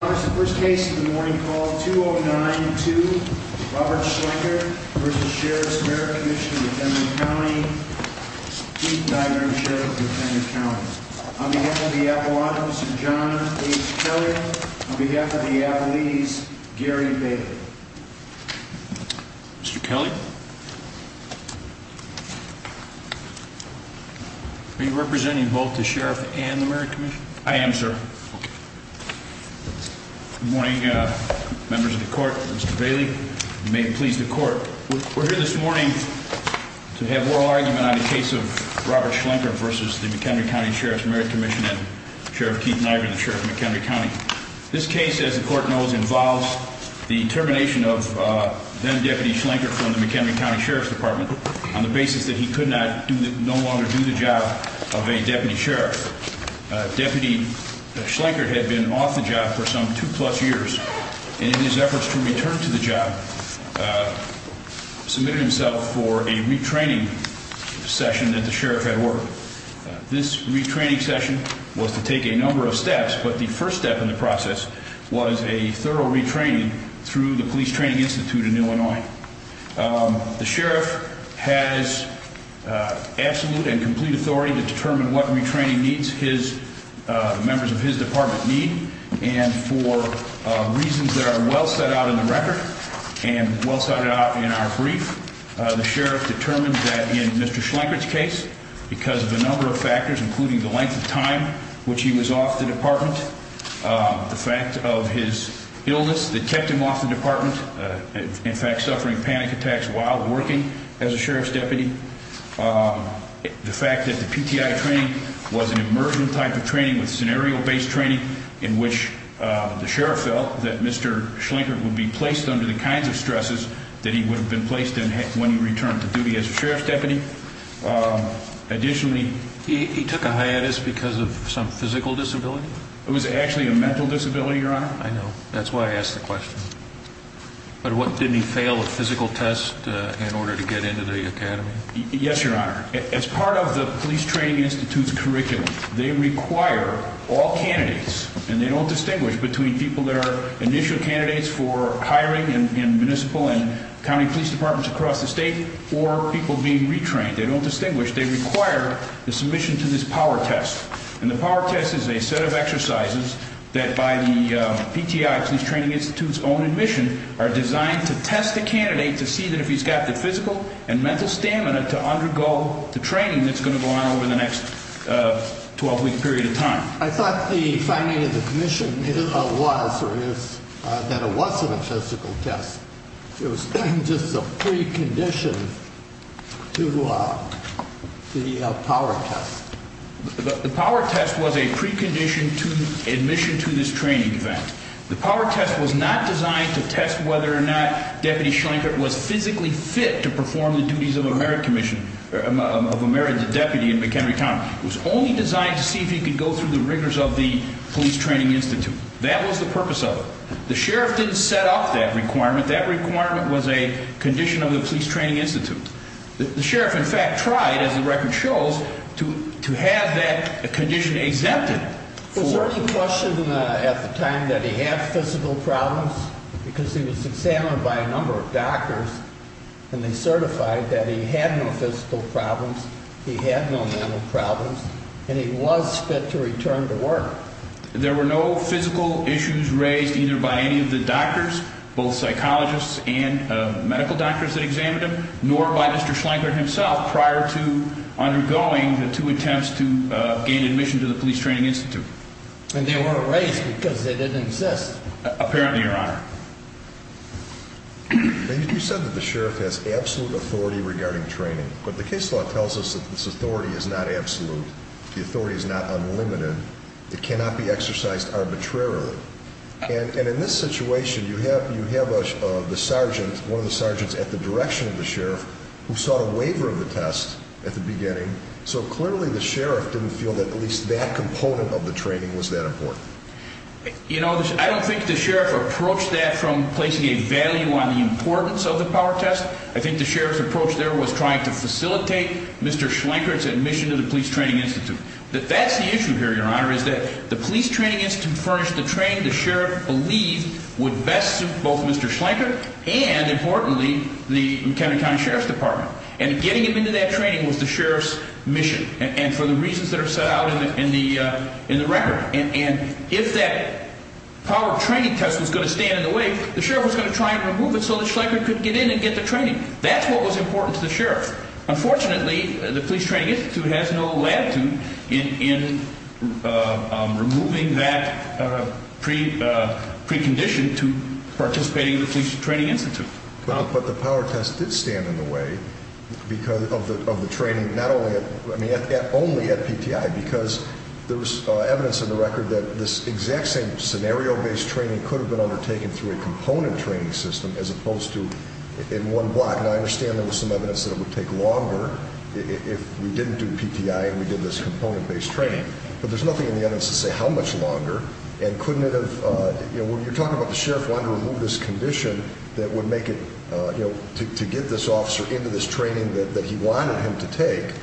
First case of the morning, call 209-2, Robert Schlenkert v. Sheriff's Merit Commission of McHenry County Chief Dietrich, Sheriff of McHenry County On behalf of the Apple Office, Mr. John H. Kelly On behalf of the Appalachians, Gary Baker Mr. Kelly Are you representing both the Sheriff and the Merit Commission? I am, sir Okay Good morning, members of the court, Mr. Bailey You may please the court We're here this morning to have oral argument on the case of Robert Schlenkert v. Sheriff's Merit Commission of McHenry County and Sheriff Keith Niger, the Sheriff of McHenry County This case, as the court knows, involves the termination of then-Deputy Schlenkert from the McHenry County Sheriff's Department on the basis that he could no longer do the job of a Deputy Sheriff Deputy Schlenkert had been off the job for some two-plus years and in his efforts to return to the job, submitted himself for a retraining session that the Sheriff had ordered This retraining session was to take a number of steps but the first step in the process was a thorough retraining through the Police Training Institute in Illinois The Sheriff has absolute and complete authority to determine what retraining members of his department need and for reasons that are well set out in the record and well set out in our brief the Sheriff determined that in Mr. Schlenkert's case, because of a number of factors including the length of time which he was off the department the fact of his illness that kept him off the department in fact, suffering panic attacks while working as a Sheriff's Deputy the fact that the PTI training was an immersion type of training with scenario-based training in which the Sheriff felt that Mr. Schlenkert would be placed under the kinds of stresses that he would have been placed in when he returned to duty as a Sheriff's Deputy Additionally, he took a hiatus because of some physical disability? It was actually a mental disability, Your Honor I know, that's why I asked the question But didn't he fail a physical test in order to get into the academy? Yes, Your Honor As part of the Police Training Institute's curriculum they require all candidates, and they don't distinguish between people that are initial candidates for hiring in municipal and county police departments across the state or people being retrained, they don't distinguish they require the submission to this power test and the power test is a set of exercises that by the PTI, Police Training Institute's own admission are designed to test the candidate to see that if he's got the physical and mental stamina to undergo the training that's going to go on over the next 12-week period of time I thought the finding of the commission was that it wasn't a physical test It was just a precondition to the power test The power test was a precondition to admission to this training event The power test was not designed to test whether or not Deputy Schlankert was physically fit to perform the duties of a Merit Deputy in McHenry County It was only designed to see if he could go through the rigors of the Police Training Institute That was the purpose of it The sheriff didn't set up that requirement That requirement was a condition of the Police Training Institute The sheriff in fact tried, as the record shows, to have that condition exempted Was there any question at the time that he had physical problems? Because he was examined by a number of doctors and they certified that he had no physical problems he had no mental problems and he was fit to return to work There were no physical issues raised either by any of the doctors both psychologists and medical doctors that examined him nor by Mr. Schlankert himself prior to undergoing the two attempts to gain admission to the Police Training Institute And they weren't raised because they didn't exist? Apparently, Your Honor You said that the sheriff has absolute authority regarding training but the case law tells us that this authority is not absolute The authority is not unlimited It cannot be exercised arbitrarily And in this situation, you have one of the sergeants at the direction of the sheriff who sought a waiver of the test at the beginning So clearly the sheriff didn't feel that at least that component of the training was that important You know, I don't think the sheriff approached that from placing a value on the importance of the power test I think the sheriff's approach there was trying to facilitate Mr. Schlankert's admission to the Police Training Institute But that's the issue here, Your Honor is that the Police Training Institute furnished the training the sheriff believed would best suit both Mr. Schlankert and, importantly, the McHenry County Sheriff's Department And getting him into that training was the sheriff's mission and for the reasons that are set out in the record And if that power training test was going to stand in the way the sheriff was going to try and remove it so that Schlankert could get in and get the training That's what was important to the sheriff Unfortunately, the Police Training Institute has no latitude in removing that precondition to participating in the Police Training Institute But the power test did stand in the way of the training, not only at PTI because there was evidence in the record that this exact same scenario-based training could have been undertaken through a component training system as opposed to in one block And I understand there was some evidence that it would take longer if we didn't do PTI and we did this component-based training But there's nothing in the evidence to say how much longer And couldn't it have, you know, when you're talking about the sheriff wanting to remove this condition that would make it, you know, to get this officer into this training that he wanted him to take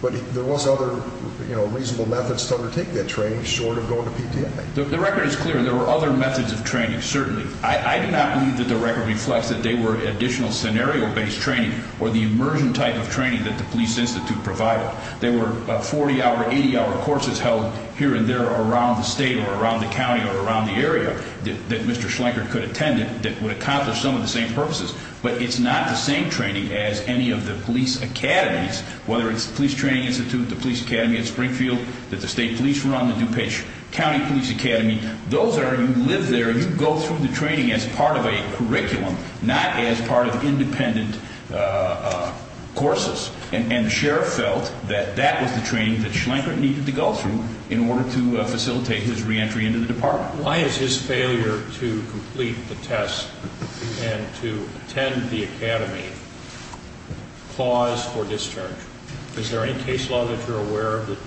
But there was other, you know, reasonable methods to undertake that training short of going to PTI The record is clear, there were other methods of training, certainly I do not believe that the record reflects that they were additional scenario-based training or the immersion type of training that the Police Institute provided There were 40-hour, 80-hour courses held here and there around the state or around the county or around the area that Mr. Schlenker could attend that would accomplish some of the same purposes But it's not the same training as any of the police academies whether it's the Police Training Institute, the Police Academy at Springfield that the state police run, the DuPage County Police Academy Those are, you live there, you go through the training as part of a curriculum not as part of independent courses And the sheriff felt that that was the training that Schlenker needed to go through in order to facilitate his re-entry into the department Why is his failure to complete the test and to attend the academy cause for discharge? Is there any case law that you're aware of that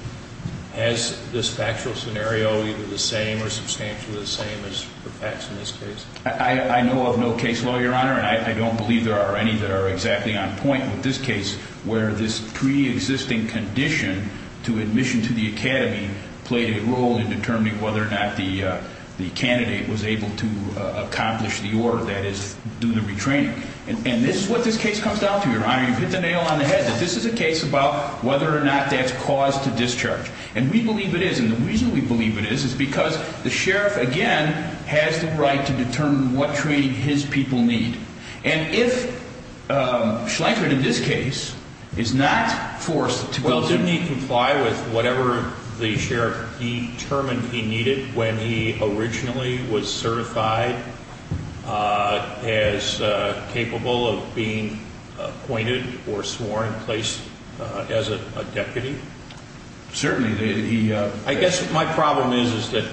has this factual scenario either the same or substantially the same as the facts in this case? I know of no case law, Your Honor, and I don't believe there are any that are exactly on point with this case where this pre-existing condition to admission to the academy played a role in determining whether or not the candidate was able to accomplish the order that is, do the retraining And this is what this case comes down to, Your Honor You've hit the nail on the head that this is a case about whether or not that's cause to discharge And we believe it is, and the reason we believe it is, is because the sheriff, again has the right to determine what training his people need And if Schlenker, in this case, is not forced to go through Well, didn't he comply with whatever the sheriff determined he needed when he originally was certified as capable of being appointed or sworn in place as a deputy? Certainly. I guess my problem is that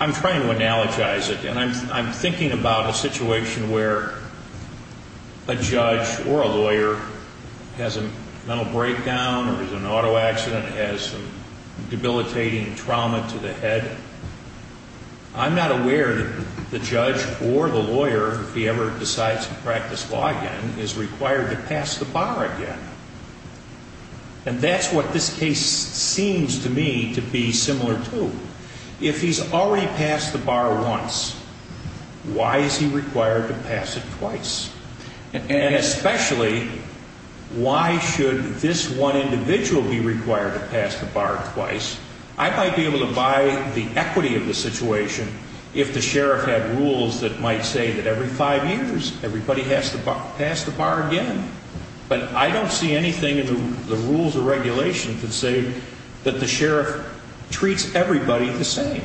I'm trying to analogize it And I'm thinking about a situation where a judge or a lawyer has a mental breakdown or is in an auto accident, has debilitating trauma to the head I'm not aware that the judge or the lawyer, if he ever decides to practice law again is required to pass the bar again And that's what this case seems to me to be similar to If he's already passed the bar once, why is he required to pass it twice? And especially, why should this one individual be required to pass the bar twice? I might be able to buy the equity of the situation if the sheriff had rules that might say that every five years, everybody has to pass the bar again But I don't see anything in the rules or regulations that say that the sheriff treats everybody the same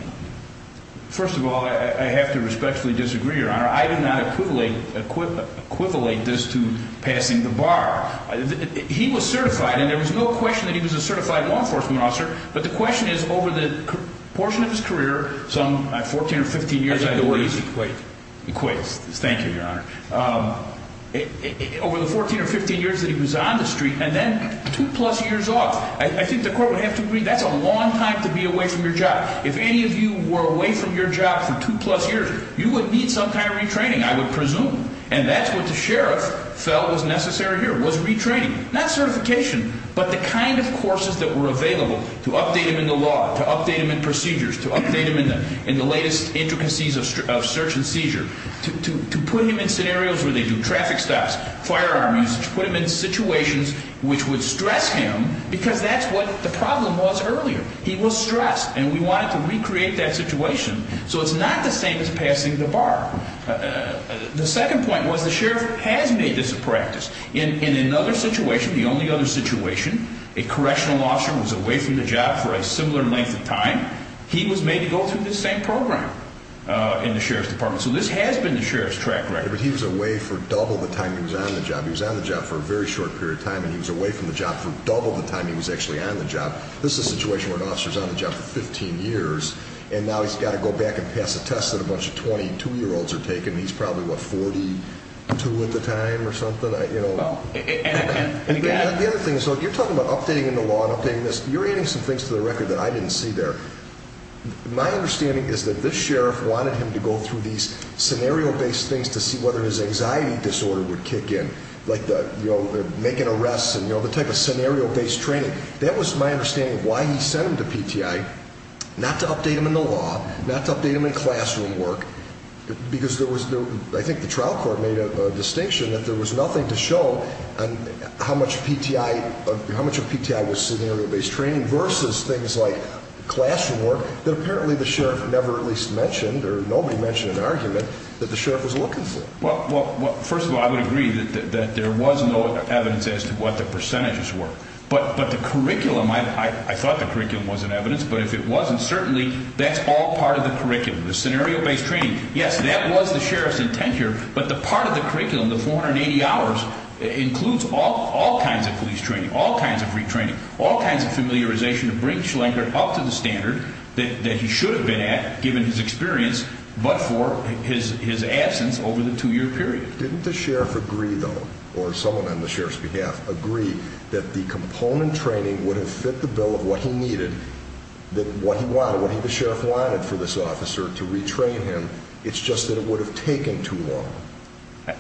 First of all, I have to respectfully disagree, Your Honor I did not equivalent this to passing the bar He was certified, and there was no question that he was a certified law enforcement officer But the question is, over the portion of his career, some 14 or 15 years Thank you, Your Honor Over the 14 or 15 years that he was on the street, and then two plus years off I think the court would have to agree that's a long time to be away from your job If any of you were away from your job for two plus years, you would need some kind of retraining, I would presume And that's what the sheriff felt was necessary here, was retraining Not certification, but the kind of courses that were available to update him in the law To update him in procedures, to update him in the latest intricacies of search and seizure To put him in scenarios where they do traffic stops, firearms To put him in situations which would stress him, because that's what the problem was earlier He was stressed, and we wanted to recreate that situation So it's not the same as passing the bar The second point was the sheriff has made this a practice In another situation, the only other situation A correctional officer was away from the job for a similar length of time He was made to go through this same program in the sheriff's department So this has been the sheriff's track record But he was away for double the time he was on the job He was on the job for a very short period of time And he was away from the job for double the time he was actually on the job This is a situation where an officer's on the job for 15 years And now he's got to go back and pass a test that a bunch of 22-year-olds are taking And he's probably, what, 42 at the time or something? The other thing is, you're talking about updating the law and updating this You're adding some things to the record that I didn't see there My understanding is that this sheriff wanted him to go through these scenario-based things To see whether his anxiety disorder would kick in Like making arrests and the type of scenario-based training That was my understanding of why he sent him to PTI Not to update him in the law, not to update him in classroom work Because I think the trial court made a distinction That there was nothing to show on how much of PTI was scenario-based training Versus things like classroom work That apparently the sheriff never at least mentioned Or nobody mentioned in an argument that the sheriff was looking for Well, first of all, I would agree that there was no evidence as to what the percentages were But the curriculum, I thought the curriculum was in evidence But if it wasn't, certainly that's all part of the curriculum The scenario-based training, yes, that was the sheriff's intent here But the part of the curriculum, the 480 hours, includes all kinds of police training All kinds of retraining, all kinds of familiarization To bring Schlenker up to the standard that he should have been at Given his experience, but for his absence over the two-year period Didn't the sheriff agree, though, or someone on the sheriff's behalf Agree that the component training would have fit the bill of what he needed That what he wanted, what the sheriff wanted for this officer to retrain him It's just that it would have taken too long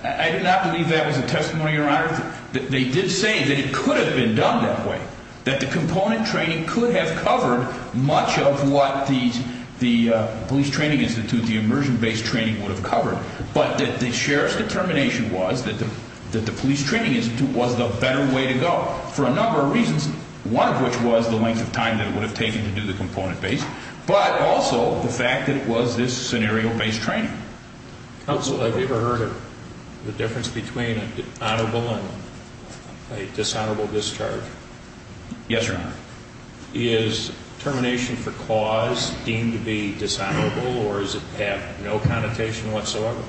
I do not believe that was a testimony, your honor They did say that it could have been done that way That the component training could have covered much of what the police training institute The immersion-based training would have covered But that the sheriff's determination was that the police training institute was the better way to go For a number of reasons, one of which was the length of time that it would have taken to do the component-based But also the fact that it was this scenario-based training Counsel, have you ever heard of the difference between an honorable and a dishonorable discharge? Yes, your honor Is termination for cause deemed to be dishonorable or does it have no connotation whatsoever?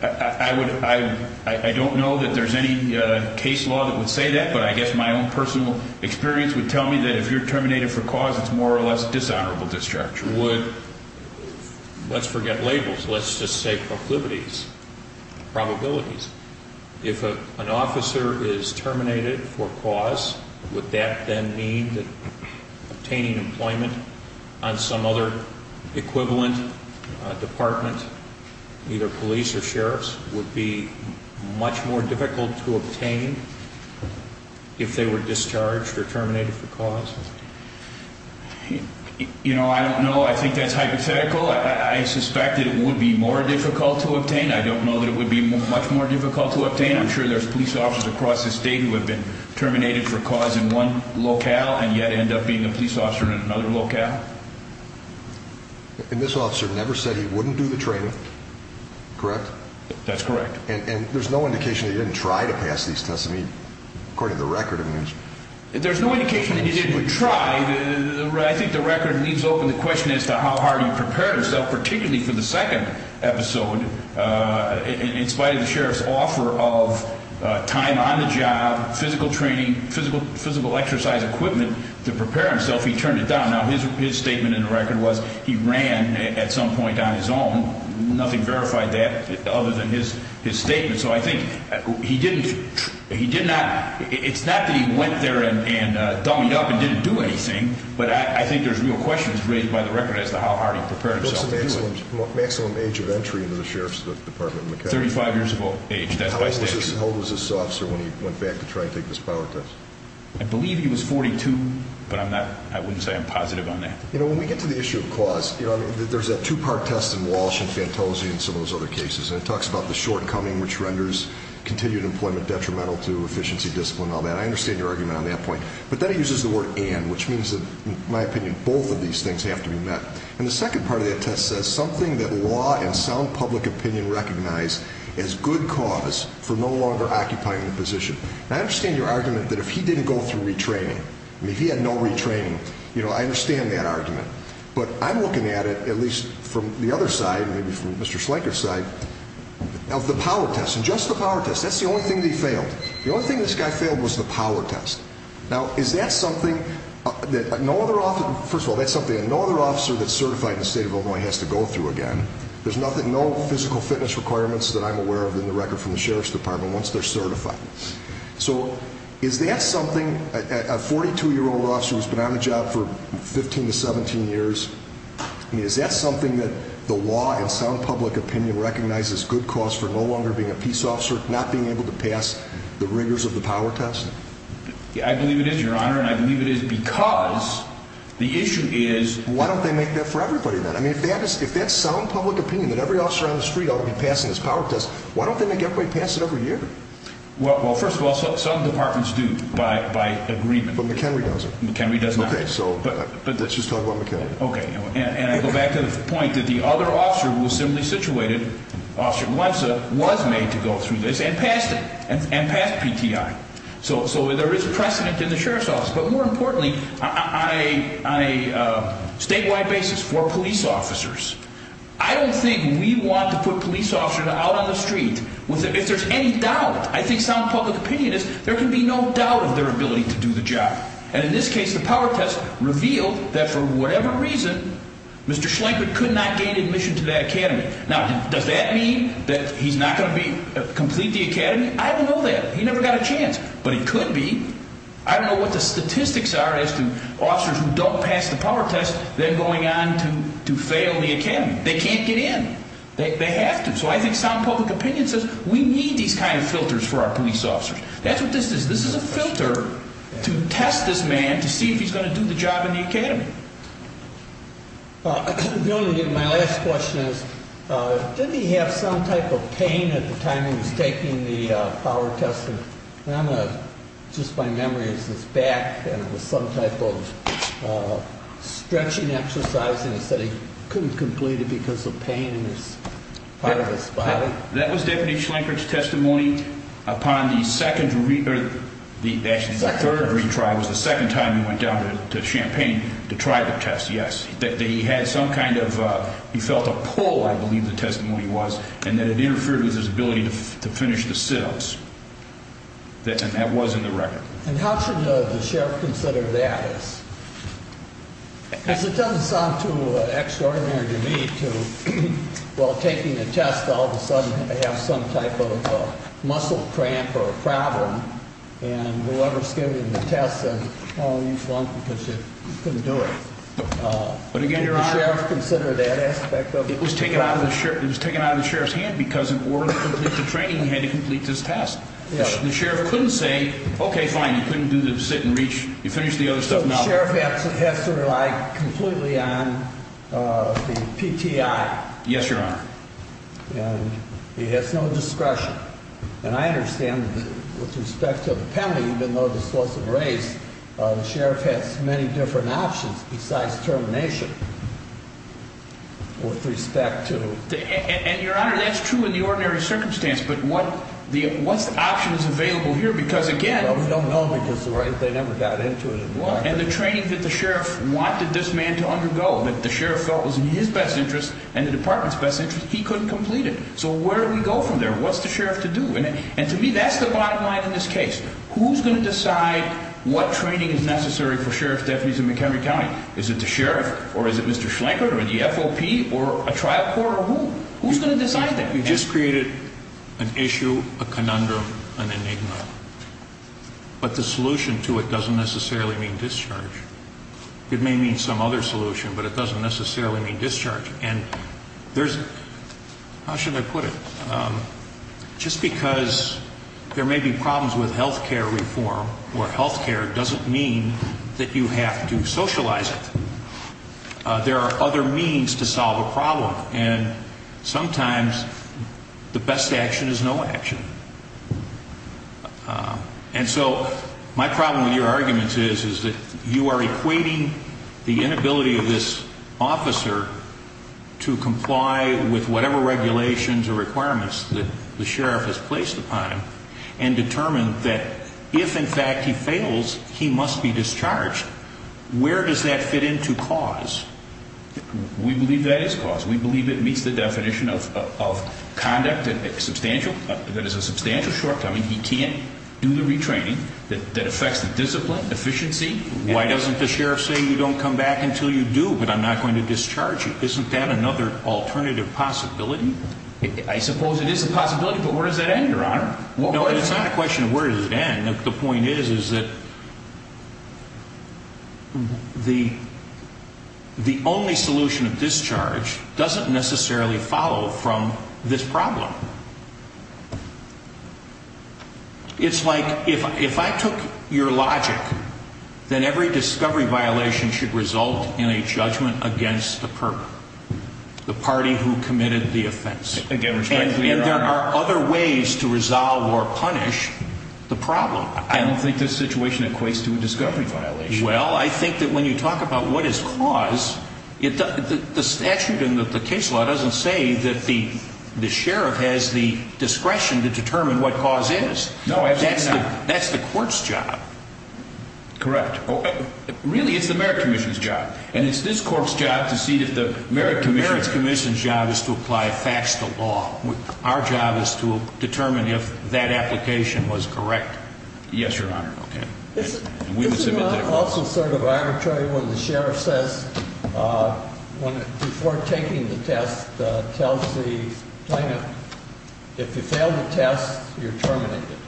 I don't know that there's any case law that would say that But I guess my own personal experience would tell me that if you're terminated for cause It's more or less dishonorable discharge Let's forget labels, let's just say proclivities, probabilities If an officer is terminated for cause Would that then mean that obtaining employment on some other equivalent department Either police or sheriffs would be much more difficult to obtain If they were discharged or terminated for cause? You know, I don't know, I think that's hypothetical I suspect that it would be more difficult to obtain I don't know that it would be much more difficult to obtain I'm sure there's police officers across the state who have been terminated for cause in one locale And yet end up being a police officer in another locale And this officer never said he wouldn't do the training, correct? That's correct And there's no indication that he didn't try to pass these tests, I mean, according to the record There's no indication that he didn't try I think the record leaves open the question as to how hard he prepared himself Particularly for the second episode, in spite of the sheriff's offer of time on the job Physical training, physical exercise equipment to prepare himself He turned it down Now his statement in the record was he ran at some point on his own Nothing verified that other than his statement So I think he didn't, he did not It's not that he went there and dummied up and didn't do anything But I think there's real questions raised by the record as to how hard he prepared himself What's the maximum age of entry into the sheriff's department? 35 years of age, that's by statute How old was this officer when he went back to try and take this power test? I believe he was 42, but I'm not, I wouldn't say I'm positive on that You know, when we get to the issue of cause There's a two-part test in Walsh and Fantosi and some of those other cases And it talks about the shortcoming which renders continued employment detrimental to efficiency, discipline, all that I understand your argument on that point But then it uses the word and, which means, in my opinion, both of these things have to be met And the second part of that test says something that law and sound public opinion recognize As good cause for no longer occupying the position And I understand your argument that if he didn't go through retraining I mean, if he had no retraining, you know, I understand that argument But I'm looking at it, at least from the other side, maybe from Mr. Schleicher's side Of the power test, and just the power test, that's the only thing that he failed The only thing this guy failed was the power test Now, is that something that no other officer First of all, that's something that no other officer that's certified in the state of Illinois has to go through again There's nothing, no physical fitness requirements that I'm aware of in the record from the Sheriff's Department Once they're certified So, is that something, a 42-year-old officer who's been on the job for 15 to 17 years I mean, is that something that the law and sound public opinion recognizes As good cause for no longer being a peace officer, not being able to pass the rigors of the power test? I believe it is, Your Honor, and I believe it is because the issue is Why don't they make that for everybody then? I mean, if that's sound public opinion, that every officer on the street ought to be passing this power test Why don't they make everybody pass it every year? Well, first of all, some departments do, by agreement But McHenry doesn't McHenry does not Okay, so, let's just talk about McHenry Okay, and I go back to the point that the other officer who was similarly situated Was made to go through this and passed it And passed PTI So there is precedent in the Sheriff's Office But more importantly, on a statewide basis, for police officers I don't think we want to put police officers out on the street If there's any doubt, I think sound public opinion is There can be no doubt of their ability to do the job And in this case, the power test revealed that for whatever reason Mr. Schlenkert could not gain admission to that academy Now, does that mean that he's not going to complete the academy? I don't know that He never got a chance But it could be I don't know what the statistics are As to officers who don't pass the power test Then going on to fail the academy They can't get in They have to So I think sound public opinion says We need these kind of filters for our police officers That's what this is This is a filter to test this man To see if he's going to do the job in the academy My last question is Did he have some type of pain at the time he was taking the power test? Just my memory is his back And it was some type of stretching exercise And he said he couldn't complete it because of pain in part of his body That was Deputy Schlenkert's testimony Upon the second, actually the third retry The second time he went down to Champaign to try the test Yes, he had some kind of He felt a pull, I believe the testimony was And that it interfered with his ability to finish the sit-ups And that was in the record And how should the sheriff consider that? Because it doesn't sound too extraordinary to me While taking a test All of a sudden I have some type of muscle cramp or problem And whoever's giving me the test says Oh, you flunked because you couldn't do it But again, your honor Can the sheriff consider that aspect of it? It was taken out of the sheriff's hand Because in order to complete the training He had to complete this test The sheriff couldn't say Okay, fine, you couldn't do the sit and reach You finished the other stuff, now So the sheriff has to rely completely on the PTI Yes, your honor And he has no discretion And I understand that with respect to the penalty Even though this was a race The sheriff has many different options besides termination With respect to And your honor, that's true in the ordinary circumstance But what's the options available here? Because again Well, we don't know because they never got into it And the training that the sheriff wanted this man to undergo That the sheriff felt was in his best interest And the department's best interest He couldn't complete it So where do we go from there? What's the sheriff to do? And to me, that's the bottom line in this case Who's going to decide what training is necessary For sheriff's deputies in Montgomery County? Is it the sheriff? Or is it Mr. Schlanker? Or the FOP? Or a trial court? Or who? Who's going to decide that? You just created an issue, a conundrum, an enigma But the solution to it doesn't necessarily mean discharge It may mean some other solution But it doesn't necessarily mean discharge And there's How should I put it? Just because there may be problems with health care reform Or health care doesn't mean that you have to socialize it There are other means to solve a problem And sometimes the best action is no action And so my problem with your arguments is Is that you are equating the inability of this officer To comply with whatever regulations or requirements That the sheriff has placed upon him And determine that if in fact he fails He must be discharged Where does that fit into cause? We believe that is cause We believe it meets the definition of conduct That is a substantial shortcoming He can't do the retraining That affects the discipline, efficiency Why doesn't the sheriff say You don't come back until you do But I'm not going to discharge you Isn't that another alternative possibility? I suppose it is a possibility But where does that end, your honor? No, it's not a question of where does it end The point is, is that The only solution of discharge Doesn't necessarily follow from this problem It's like, if I took your logic Then every discovery violation should result In a judgment against the perp The party who committed the offense And there are other ways to resolve or punish the problem I don't think this situation equates to a discovery violation Well, I think that when you talk about what is cause The statute and the case law doesn't say That the sheriff has the discretion To determine what cause is No, absolutely not That's the court's job Correct Really, it's the merit commission's job And it's this court's job to see If the merit commission's job is to apply facts to law Our job is to determine if that application was correct Yes, your honor Isn't that also sort of arbitrary When the sheriff says Before taking the test Tells the plaintiff If you fail the test, you're terminated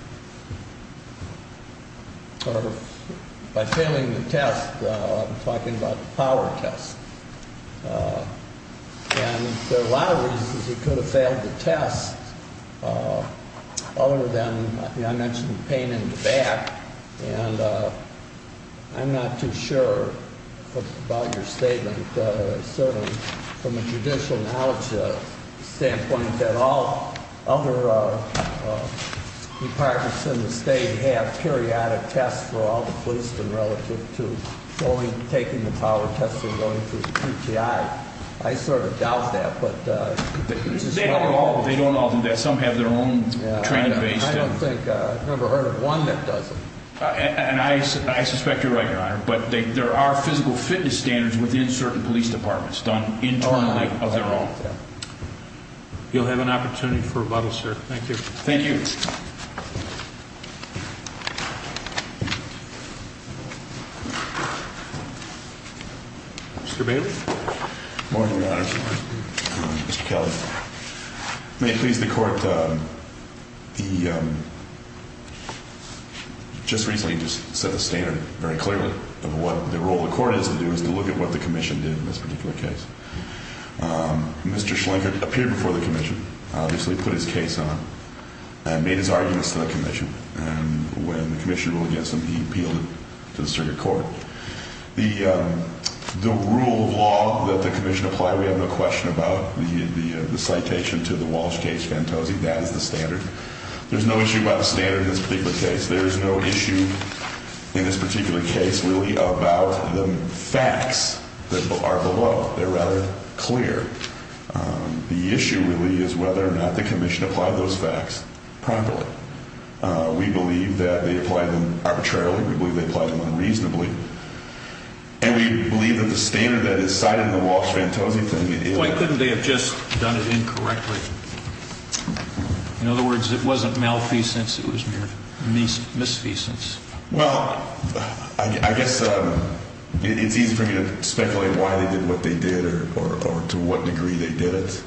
By failing the test I'm talking about the power test And there are a lot of reasons He could have failed the test Other than, I mentioned pain in the back And I'm not too sure about your statement Certainly from a judicial knowledge standpoint That all other departments in the state Have periodic tests for all the police Relative to taking the power test And going through QTI I sort of doubt that They don't all do that Some have their own training based I've never heard of one that doesn't And I suspect you're right, your honor But there are physical fitness standards Within certain police departments Internally of their own You'll have an opportunity for rebuttal, sir Thank you Thank you Mr. Bailey Good morning, your honor Mr. Kelly May it please the court The Just recently set the standard very clearly Of what the role of the court is to do Is to look at what the commission did In this particular case Mr. Schlinkert appeared before the commission Obviously put his case on And made his arguments to the commission And when the commission ruled against him He appealed it to the circuit court The rule of law that the commission applied We have no question about The citation to the Walsh case Fantosi, that is the standard There's no issue about the standard In this particular case There is no issue in this particular case Really about the facts That are below They're rather clear The issue really is whether or not The commission applied those facts Properly We believe that they applied them arbitrarily We believe they applied them unreasonably And we believe that the standard That is cited in the Walsh-Fantosi thing Why couldn't they have just done it incorrectly? In other words, it wasn't malfeasance It was mere misfeasance Well, I guess It's easy for me to speculate Why they did what they did Or to what degree they did it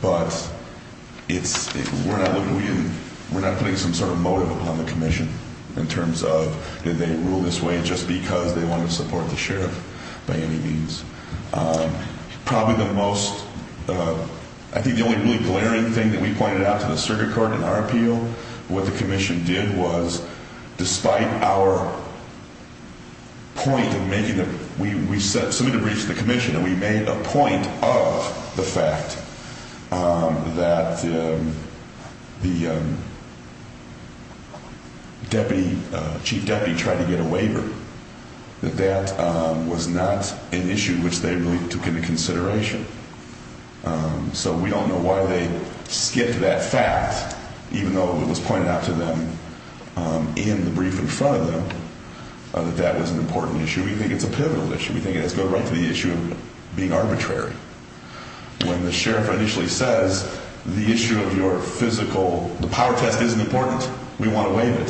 But It's We're not putting some sort of motive Upon the commission In terms of did they rule this way Just because they wanted to support the sheriff By any means Probably the most I think the only really glaring thing That we pointed out to the circuit court In our appeal What the commission did was Despite our Point of making We submitted a brief to the commission And we made a point of the fact That The Deputy, Chief Deputy Tried to get a waiver That that was not an issue Which they really took into consideration So we don't know Why they skipped that fact Even though it was pointed out to them In the brief in front of them That that was an important issue We think it's a pivotal issue We think it has to go right to the issue of being arbitrary When the sheriff Initially says The issue of your physical The power test isn't important We want a waiver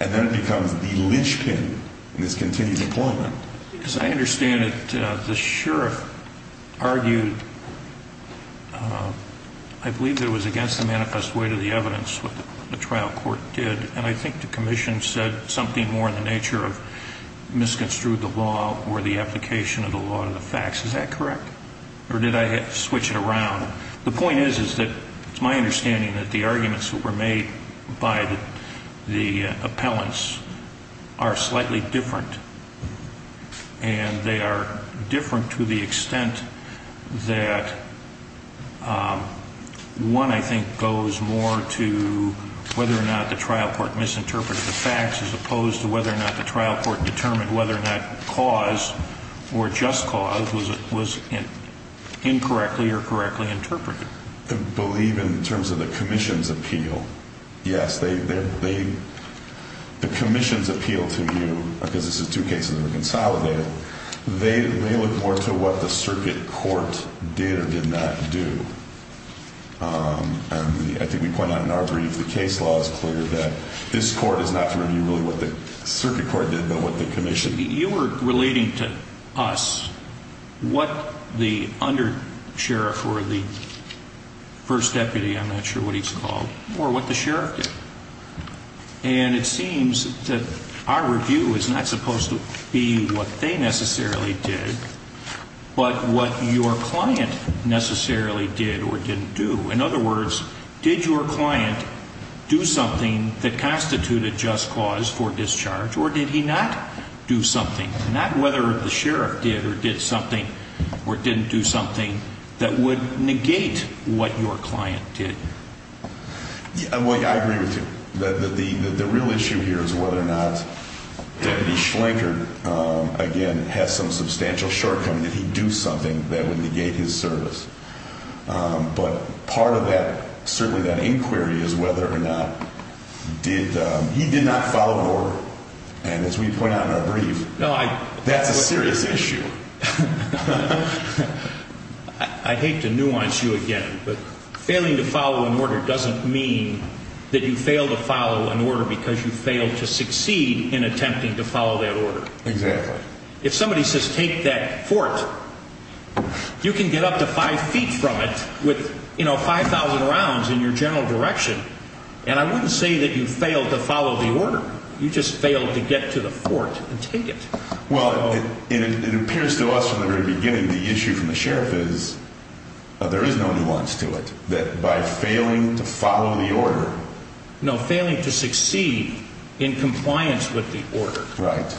And then it becomes the linchpin In this continued employment Because I understand that the sheriff Argued I believe That it was against the manifest way to the evidence What the trial court did And I think the commission said something more In the nature of misconstrued The law or the application of the law To the facts. Is that correct? Or did I switch it around? The point is that it's my understanding That the arguments that were made By the appellants Are slightly different And They are different to the extent That One I think Goes more to Whether or not the trial court misinterpreted The facts as opposed to whether or not The trial court determined whether or not Cause or just cause Was Incorrectly or correctly interpreted I believe in terms of the commission's Appeal. Yes They The commission's appeal to you Because this is two cases that were consolidated They look more to what the Circuit court did or did not Do And I think we point out in our brief The case law is clear that This court is not to review really what the Circuit court did but what the commission You were relating to us What the Under sheriff or the First deputy I'm not sure what he's called or what the sheriff did And it seems That our review is not supposed to Be what they necessarily Did but what Your client necessarily Did or didn't do in other words Did your client Do something that constituted Just cause for discharge or did He not do something not Whether the sheriff did or did something Or didn't do something That would negate what Your client did I agree with you The real issue here is whether Or not Again has some substantial Shortcoming that he do something That would negate his service But part of that Certainly that inquiry is whether or not Did He did not follow order And as we point out in our brief That's a serious issue I hate to nuance you again but Failing to follow an order doesn't Mean that you fail to follow An order because you fail to succeed In attempting to follow that order Exactly If somebody says take that fort You can get up to five feet from it With you know five thousand rounds In your general direction And I wouldn't say that you failed to follow the order You just failed to get to the Fort and take it Well it appears to us from the very beginning The issue from the sheriff is There is no nuance to it That by failing to follow the order No failing to succeed In compliance with the order Right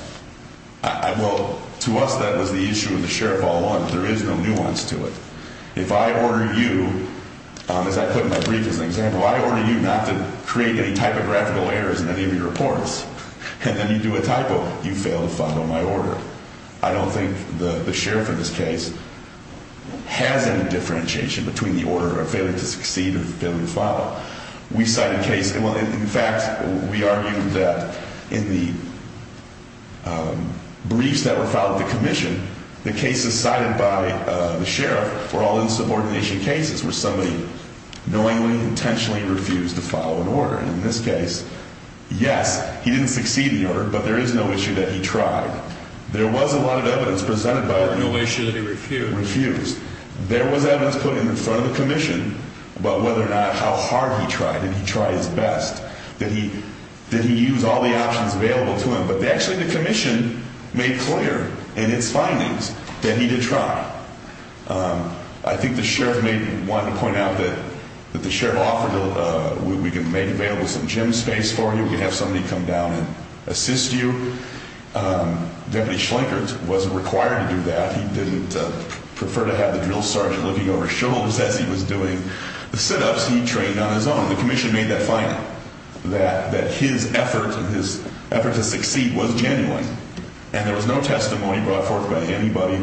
Well to us that was the issue Of the sheriff all along There is no nuance to it If I order you As I put in my brief as an example I order you not to create any typographical errors In any of your reports And then you do a typo You fail to follow my order I don't think the sheriff in this case Has any differentiation Between the order of failing to succeed And failing to follow We cite a case In fact we argue that In the Briefs that were filed at the commission The cases cited by the sheriff Were all insubordination cases Where somebody knowingly Intentionally refused to follow an order In this case Yes he didn't succeed in the order But there is no issue that he tried There was a lot of evidence presented No issue that he refused There was evidence put in front of the commission About whether or not How hard he tried Did he try his best Did he use all the options available to him But actually the commission Made clear in its findings That he did try I think the sheriff may want to point out That the sheriff offered We can make available some gym space for you We can have somebody come down And assist you Deputy Schlinkert Wasn't required to do that He didn't prefer to have the drill sergeant Looking over his shoulders as he was doing The sit-ups he trained on his own The commission made that final That his effort To succeed was genuine And there was no testimony brought forth By anybody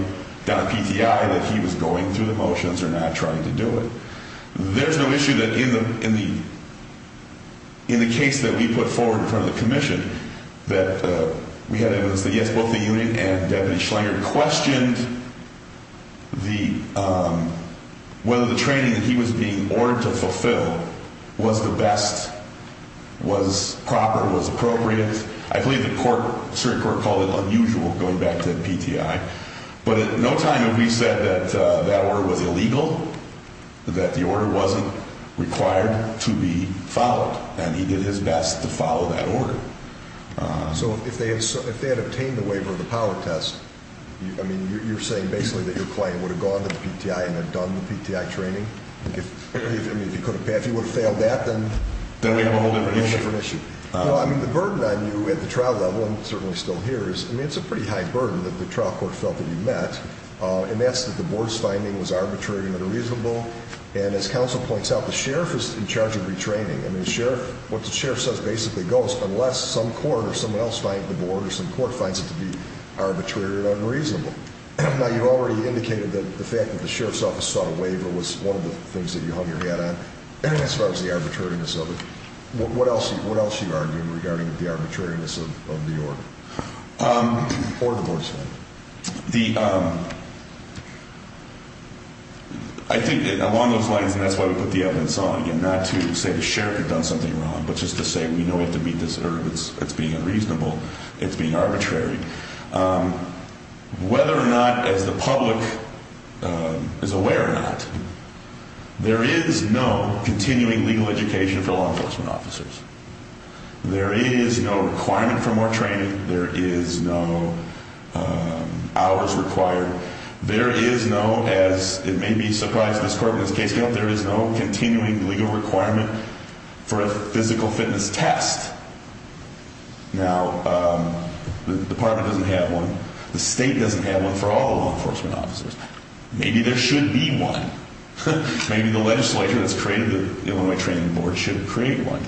down at PTI That he was going through the motions Or not trying to do it There is no issue that In the In the case that we put forward In front of the commission That we had evidence that yes Both the unit and Deputy Schlinkert Questioned Whether the training That he was being ordered to fulfill Was the best Was proper Was appropriate I believe the court called it unusual Going back to PTI But at no time have we said That that order was illegal That the order wasn't Required to be followed And he did his best to follow that order So if they Had obtained the waiver of the power test I mean you're saying Basically that your client would have gone to the PTI And had done the PTI training If he would have failed that Then we have a whole different issue Well I mean the burden on you At the trial level, I'm certainly still here It's a pretty high burden that the trial court Felt that he met And that's that the board's finding was arbitrary And unreasonable and as counsel points out The sheriff is in charge of retraining And what the sheriff says basically goes Unless some court or someone else Finds the board or some court finds it to be Arbitrary or unreasonable Now you've already indicated that the fact That the sheriff's office sought a waiver Was one of the things that you hung your hat on As far as the arbitrariness of it What else do you argue regarding The arbitrariness of the order Or the board's finding I think along those lines And that's why we put the evidence on Not to say the sheriff had done something wrong But just to say we know we have to meet this It's being unreasonable, it's being arbitrary Whether or not As the public Is aware or not There is no Continuing legal education for law enforcement officers There is no Requirement for more training There is no Hours required There is no As it may be surprising to this court There is no continuing legal requirement For a physical fitness test Now The department doesn't have one The state doesn't have one For all the law enforcement officers Maybe there should be one Maybe the legislature that's created The Illinois Training Board should create one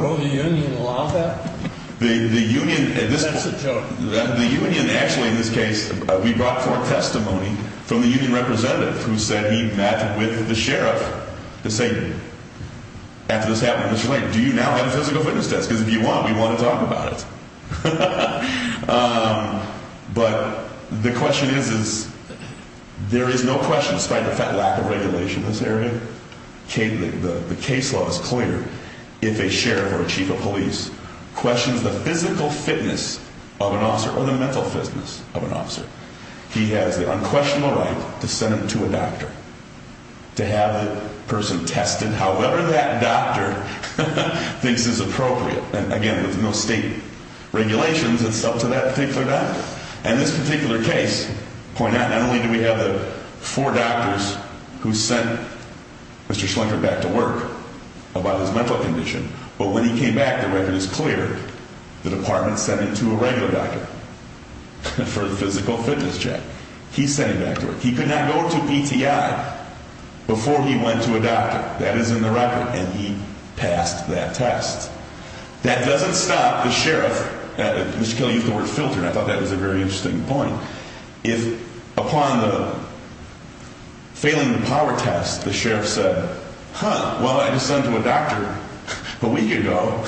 Will the union allow that? The union That's a joke The union actually in this case We brought forth testimony From the union representative Who said he met with the sheriff To say After this happened Do you now have a physical fitness test Because if you want We want to talk about it But the question is There is no question Despite the lack of regulation in this area The case law is clear If a sheriff or chief of police Questions the physical fitness Of an officer Or the mental fitness of an officer He has the unquestionable right To send him to a doctor To have the person tested However that doctor Thinks it's appropriate And again with no state regulations It's up to that particular doctor And this particular case To point out Not only do we have the four doctors Who sent Mr. Schlenker back to work About his mental condition But when he came back The record is clear The department sent him to a regular doctor For a physical fitness check He sent him back to work He could not go to PTI Before he went to a doctor That is in the record And he passed that test That doesn't stop the sheriff Mr. Kelly used the word filter And I thought that was a very interesting point If upon the Failing the power test The sheriff said Huh, well I just sent him to a doctor A week ago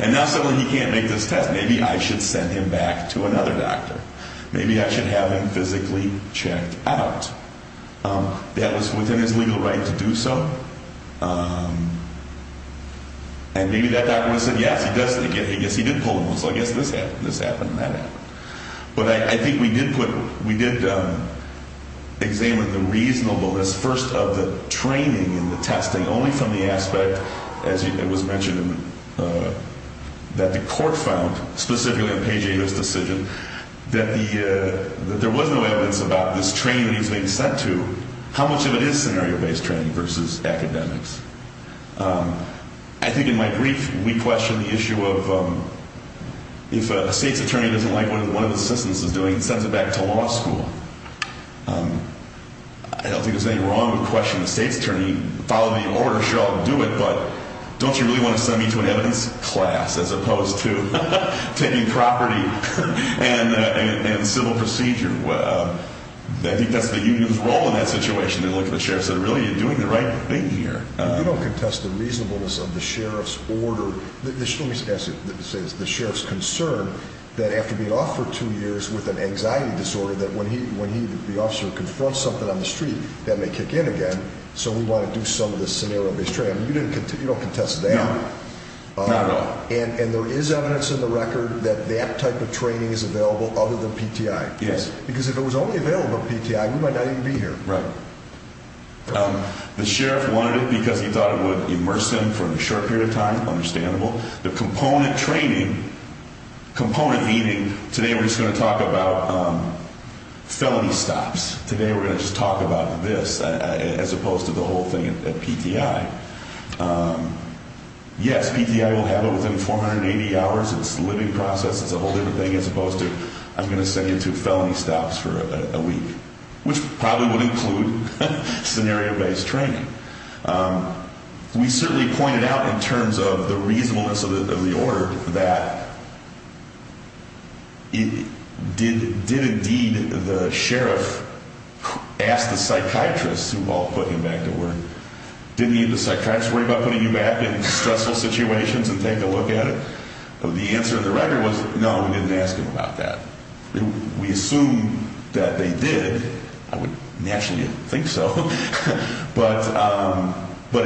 And now suddenly he can't make this test Maybe I should send him back to another doctor Maybe I should have him physically Checked out That was within his legal right to do so And maybe that doctor Said yes, he did pull him So I guess this happened and that happened But I think we did put We did Examine the reasonableness First of the training and the testing Only from the aspect As it was mentioned That the court found Specifically on Page 8 of this decision That there was no evidence About this training that he was being sent to How much of it is scenario based training Versus academics I think in my brief We questioned the issue of If a state's attorney Doesn't like what one of the assistants is doing Sends it back to law school I don't think there's anything wrong With questioning the state's attorney Follow the order, sure I'll do it But don't you really want to send me to an evidence class As opposed to Taking property And civil procedure I think that's the union's role In that situation And look at the sheriff and say Really, you're doing the right thing here You don't contest the reasonableness of the sheriff's order Let me ask you The sheriff's concern That after being off for two years With an anxiety disorder That when the officer confronts something on the street That may kick in again So we want to do some of this scenario based training You don't contest that And there is evidence in the record That that type of training is available Other than PTI Because if it was only available at PTI We might not even be here The sheriff wanted it Because he thought it would immerse him For a short period of time, understandable The component training Component meaning Today we're just going to talk about Felony stops Today we're just going to talk about this As opposed to the whole thing at PTI Yes, PTI will have it within 480 hours It's a living process As opposed to I'm going to send you to felony stops for a week Which probably would include Scenario based training We certainly pointed out In terms of the reasonableness Of the order That It did indeed The sheriff Asked the psychiatrist Who all put him back to work Did the psychiatrist worry about putting you back In stressful situations and take a look at it The answer on the record was No, we didn't ask him about that We assume that they did I would naturally think so But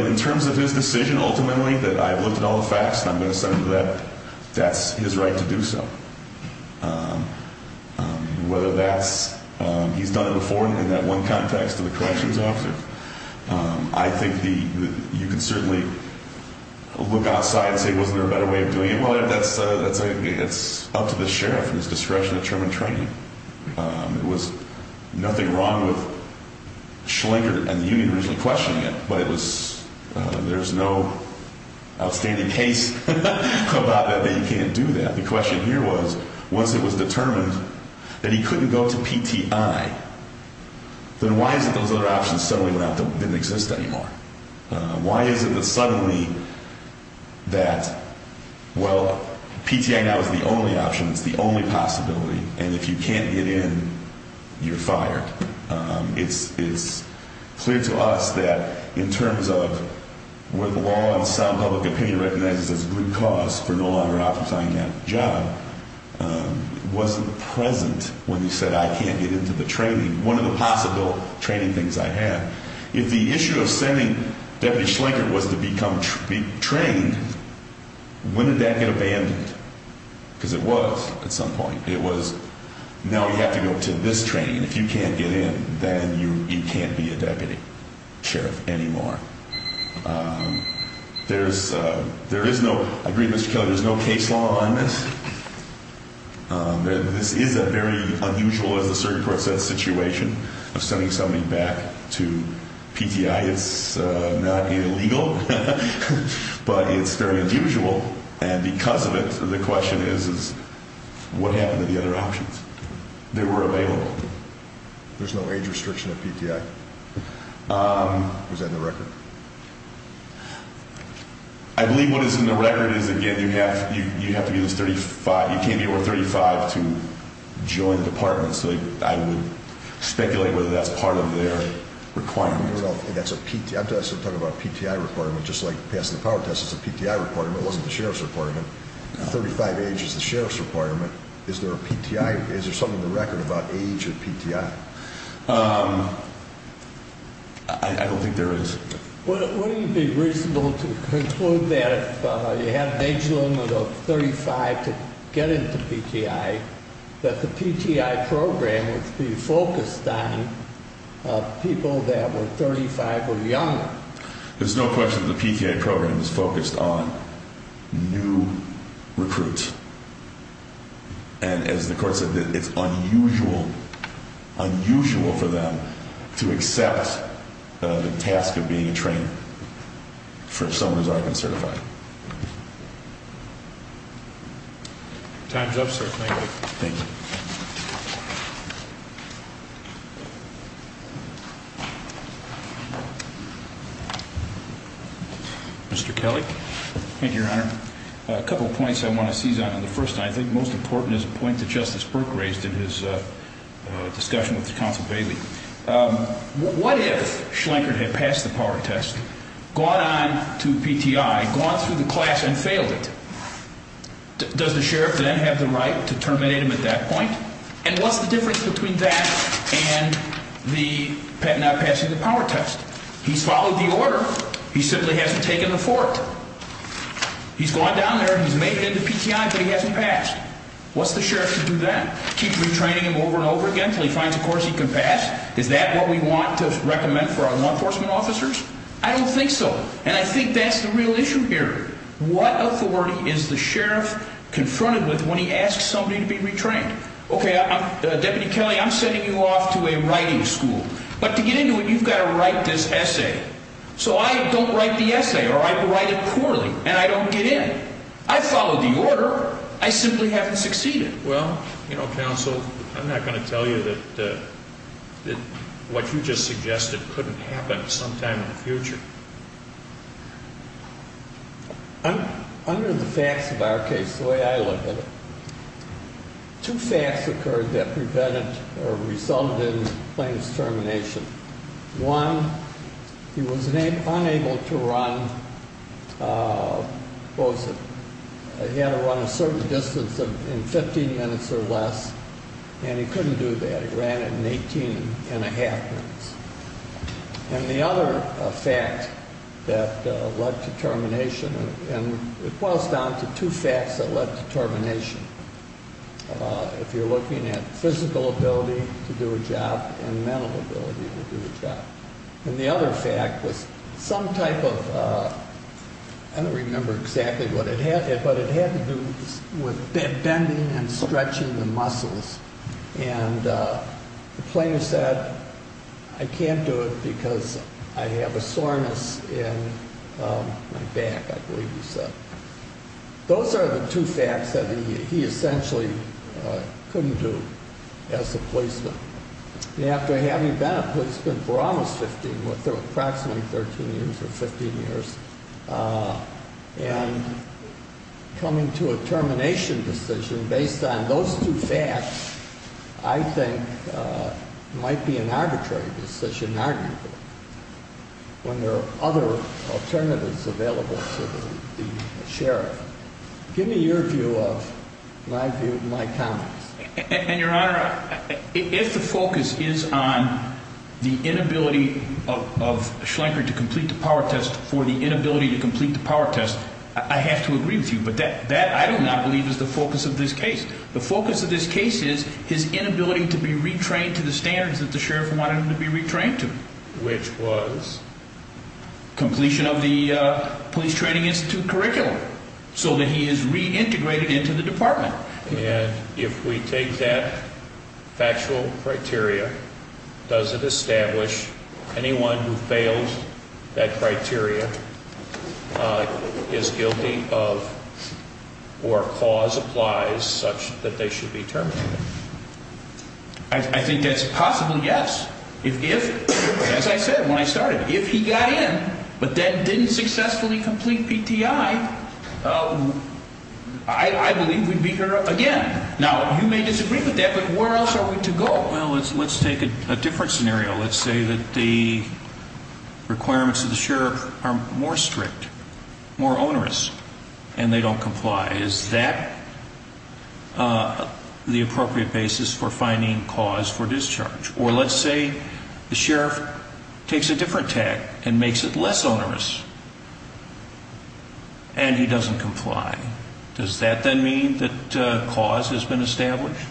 In terms of his decision Ultimately that I've looked at all the facts And I'm going to send him to that That's his right to do so Whether that's He's done it before In that one context of the corrections officer I think You can certainly Look outside And say wasn't there a better way of doing it It's up to the sheriff And his discretion to determine training It was nothing wrong with Schlenker And the union originally questioning it But it was There's no outstanding case About that you can't do that The question here was Once it was determined That he couldn't go to PTI Then why is it those other options Suddenly didn't exist anymore Why is it that suddenly That Well PTI now is the only option It's the only possibility And if you can't get in You're fired It's clear to us that In terms of Where the law and sound public opinion recognizes As a good cause for no longer Offering that job Wasn't present When he said I can't get into the training One of the possible training things I had If the issue of sending Deputy Schlenker was to become Trained When did that get abandoned Because it was at some point Now you have to go to this training If you can't get in Then you can't be a deputy sheriff Anymore There's There is no There's no case law on this This is a very Unusual as the circuit court said Situation of sending somebody back To PTI It's not illegal But it's very unusual And because of it The question is What happened to the other options They were available There's no age restriction at PTI Is that in the record I believe what is in the record Is again you have to be You can't be over 35 To join the department So I would speculate Whether that's part of their requirement I'm talking about PTI requirement Just like passing the power test It's a PTI requirement It wasn't the sheriff's requirement 35 age is the sheriff's requirement Is there something in the record about age at PTI I don't think there is Wouldn't it be reasonable To conclude that If you have an age limit of 35 To get into PTI That the PTI program Would be focused on People that were 35 or younger There's no question the PTI program Is focused on New recruits And as the court said It's unusual Unusual for them To accept The task of being a trainer For someone who's already been certified Time's up sir Thank you Mr. Kelly Thank you your honor A couple of points I want to seize on The first I think most important Is a point that Justice Burke Raised in his discussion With counsel Bailey What if Schlenkert had passed the power test Gone on to PTI Gone through the class and failed it Does the sheriff then Have the right to terminate him at that point And what's the difference between that And the Not passing the power test He's followed the order He simply hasn't taken the fort He's gone down there He's made it into PTI but he hasn't passed What's the sheriff to do then Keep retraining him over and over again Until he finds a course he can pass Is that what we want to recommend for our law enforcement officers I don't think so And I think that's the real issue here What authority is the sheriff Confronted with when he asks somebody To be retrained Deputy Kelly I'm sending you off to a writing school But to get into it You've got to write this essay So I don't write the essay Or I write it poorly and I don't get in I followed the order Or I simply haven't succeeded Well you know counsel I'm not going to tell you that What you just suggested Couldn't happen sometime in the future Under the facts of our case The way I look at it Two facts occurred that Resulted in Plaintiff's termination One He was unable to run What was it He had to run a certain distance In 15 minutes or less And he couldn't do that He ran it in 18 and a half minutes And the other Fact That led to termination And it boils down to two facts That led to termination If you're looking at Physical ability to do a job And mental ability to do a job And the other fact was Some type of I don't remember exactly what it had But it had to do with Bending and stretching the muscles And The plaintiff said I can't do it because I have a soreness in My back I believe he said Those are the two Facts that he essentially Couldn't do As a policeman And after having been a policeman For almost 15 approximately 13 years or 15 years And Coming to a termination Decision based on those Two facts I think Might be an Arbitrary decision When there are other Alternatives available to the Sheriff Give me your view of My view of my comments And your honor if the focus Is on the inability Of Schlenker to Complete the power test for the inability to Complete the power test I have to Agree with you but that I do not believe is The focus of this case the focus of this Case is his inability to be Retrained to the standards that the sheriff wanted Him to be retrained to which was Completion Of the police training institute Curriculum so that he is Reintegrated into the department And if we take that Factual criteria Does it establish Anyone who fails That criteria Is guilty of Or cause Applies such that they should be terminated I think That's a possible yes If as I said when I started If he got in but then Didn't successfully complete PTI I Believe we'd be here again Now you may disagree with that But where else are we to go Well let's take a different scenario Let's say that the Requirements of the sheriff are more strict More onerous And they don't comply Is that The appropriate basis for finding Cause for discharge or let's say The sheriff Takes a different tag and makes it less onerous And he doesn't comply Does that then mean that Cause has been established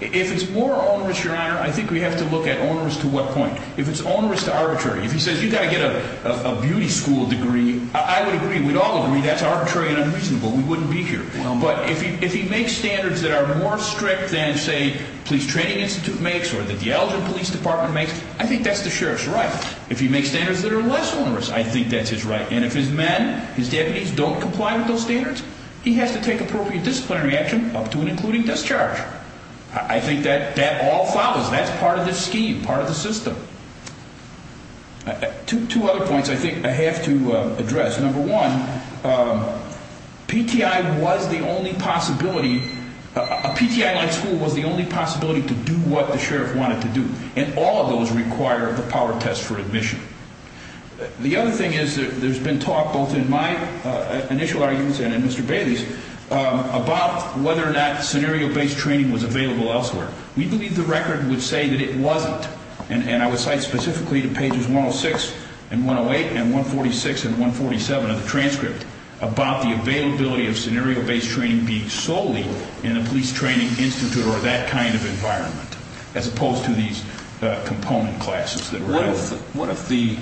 If it's more onerous your honor I think we have to look at onerous to what point If it's onerous to arbitrary If he says you gotta get a beauty school degree I would agree we'd all agree That's arbitrary and unreasonable we wouldn't be here But if he makes standards that are More strict than say Police training institute makes or the Elgin police department makes I think that's the sheriff's right If he makes standards that are less onerous I think that's his right and if his men His deputies don't comply with those standards He has to take appropriate disciplinary action Up to and including discharge I think that that all follows That's part of the scheme part of the system Two other points I think I have to Address number one PTI was the Only possibility A PTI like school was the only possibility To do what the sheriff wanted to do And all of those require the power test For admission The other thing is There's been talk both in my Initial arguments and in Mr. Bailey's About whether or not Scenario based training was available elsewhere We believe the record would say that it Wasn't and I would cite specifically To pages 106 and 108 And 146 and 147 Of the transcript about the availability Of scenario based training being solely In a police training institute Or that kind of environment As opposed to these component Classes that are available What if the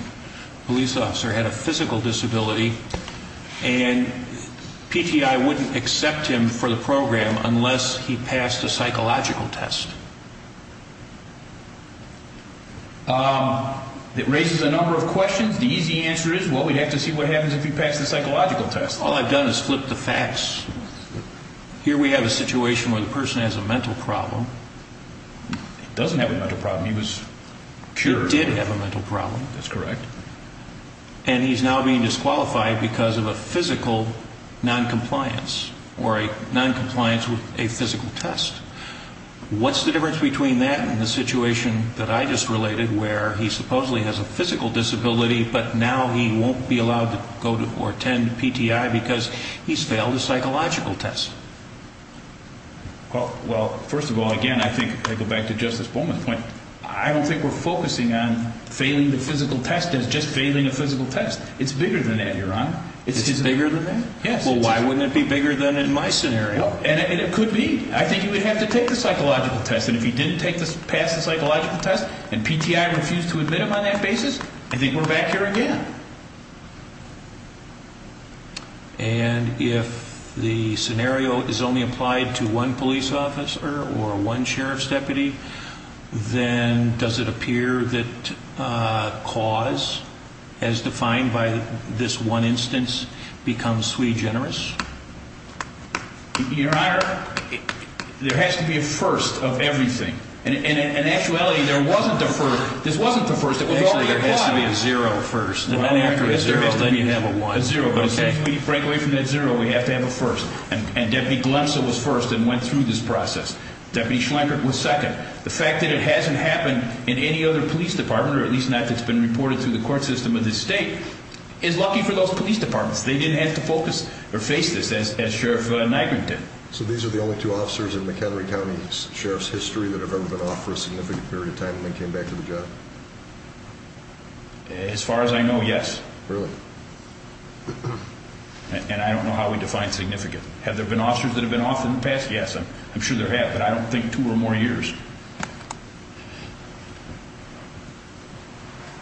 police officer had a Physical disability And PTI wouldn't Accept him for the program unless He passed the psychological test It raises a number of questions The easy answer is well we'd have to see what happens If he passed the psychological test All I've done is flip the facts Here we have a situation where the person Has a mental problem He doesn't have a mental problem He was cured He did have a mental problem And he's now being disqualified Because of a physical Non-compliance Or a non-compliance with a physical test What's the difference between that And the situation that I just related Where he supposedly has a physical disability But now he won't be allowed To go or attend PTI Because he's failed a psychological test Well first of all Again I think I go back to Justice Bowman's point I don't think we're focusing on Failing the physical test as just failing a physical test It's bigger than that your honor It's bigger than that? Well why wouldn't it be bigger than in my scenario And it could be I think he would have to take the psychological test And if he didn't pass the psychological test And PTI refused to admit him on that basis I think we're back here again And if The scenario is only applied To one police officer Or one sheriff's deputy Then does it appear That cause As defined by this one instance Becomes sui generis Your honor There has to be a first of everything In actuality There wasn't a first This wasn't the first There has to be a zero first Well after the zero Then you have a one But since we break away from that zero We have to have a first And Deputy Glemsel was first And went through this process Deputy Schlankert was second The fact that it hasn't happened In any other police department Or at least not that's been reported Through the court system of this state Is lucky for those police departments They didn't have to focus Or face this as Sheriff Nygren did So these are the only two officers In McHenry County Sheriff's history That have ever been off for a significant period of time And then came back to the job As far as I know yes Really And I don't know how we define significant Have there been officers that have been off in the past Yes I'm sure there have But I don't think two or more years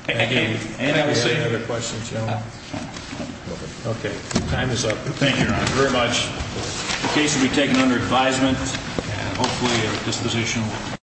Any other questions Okay time is up Thank you very much The case will be taken under advisement And hopefully at a disposition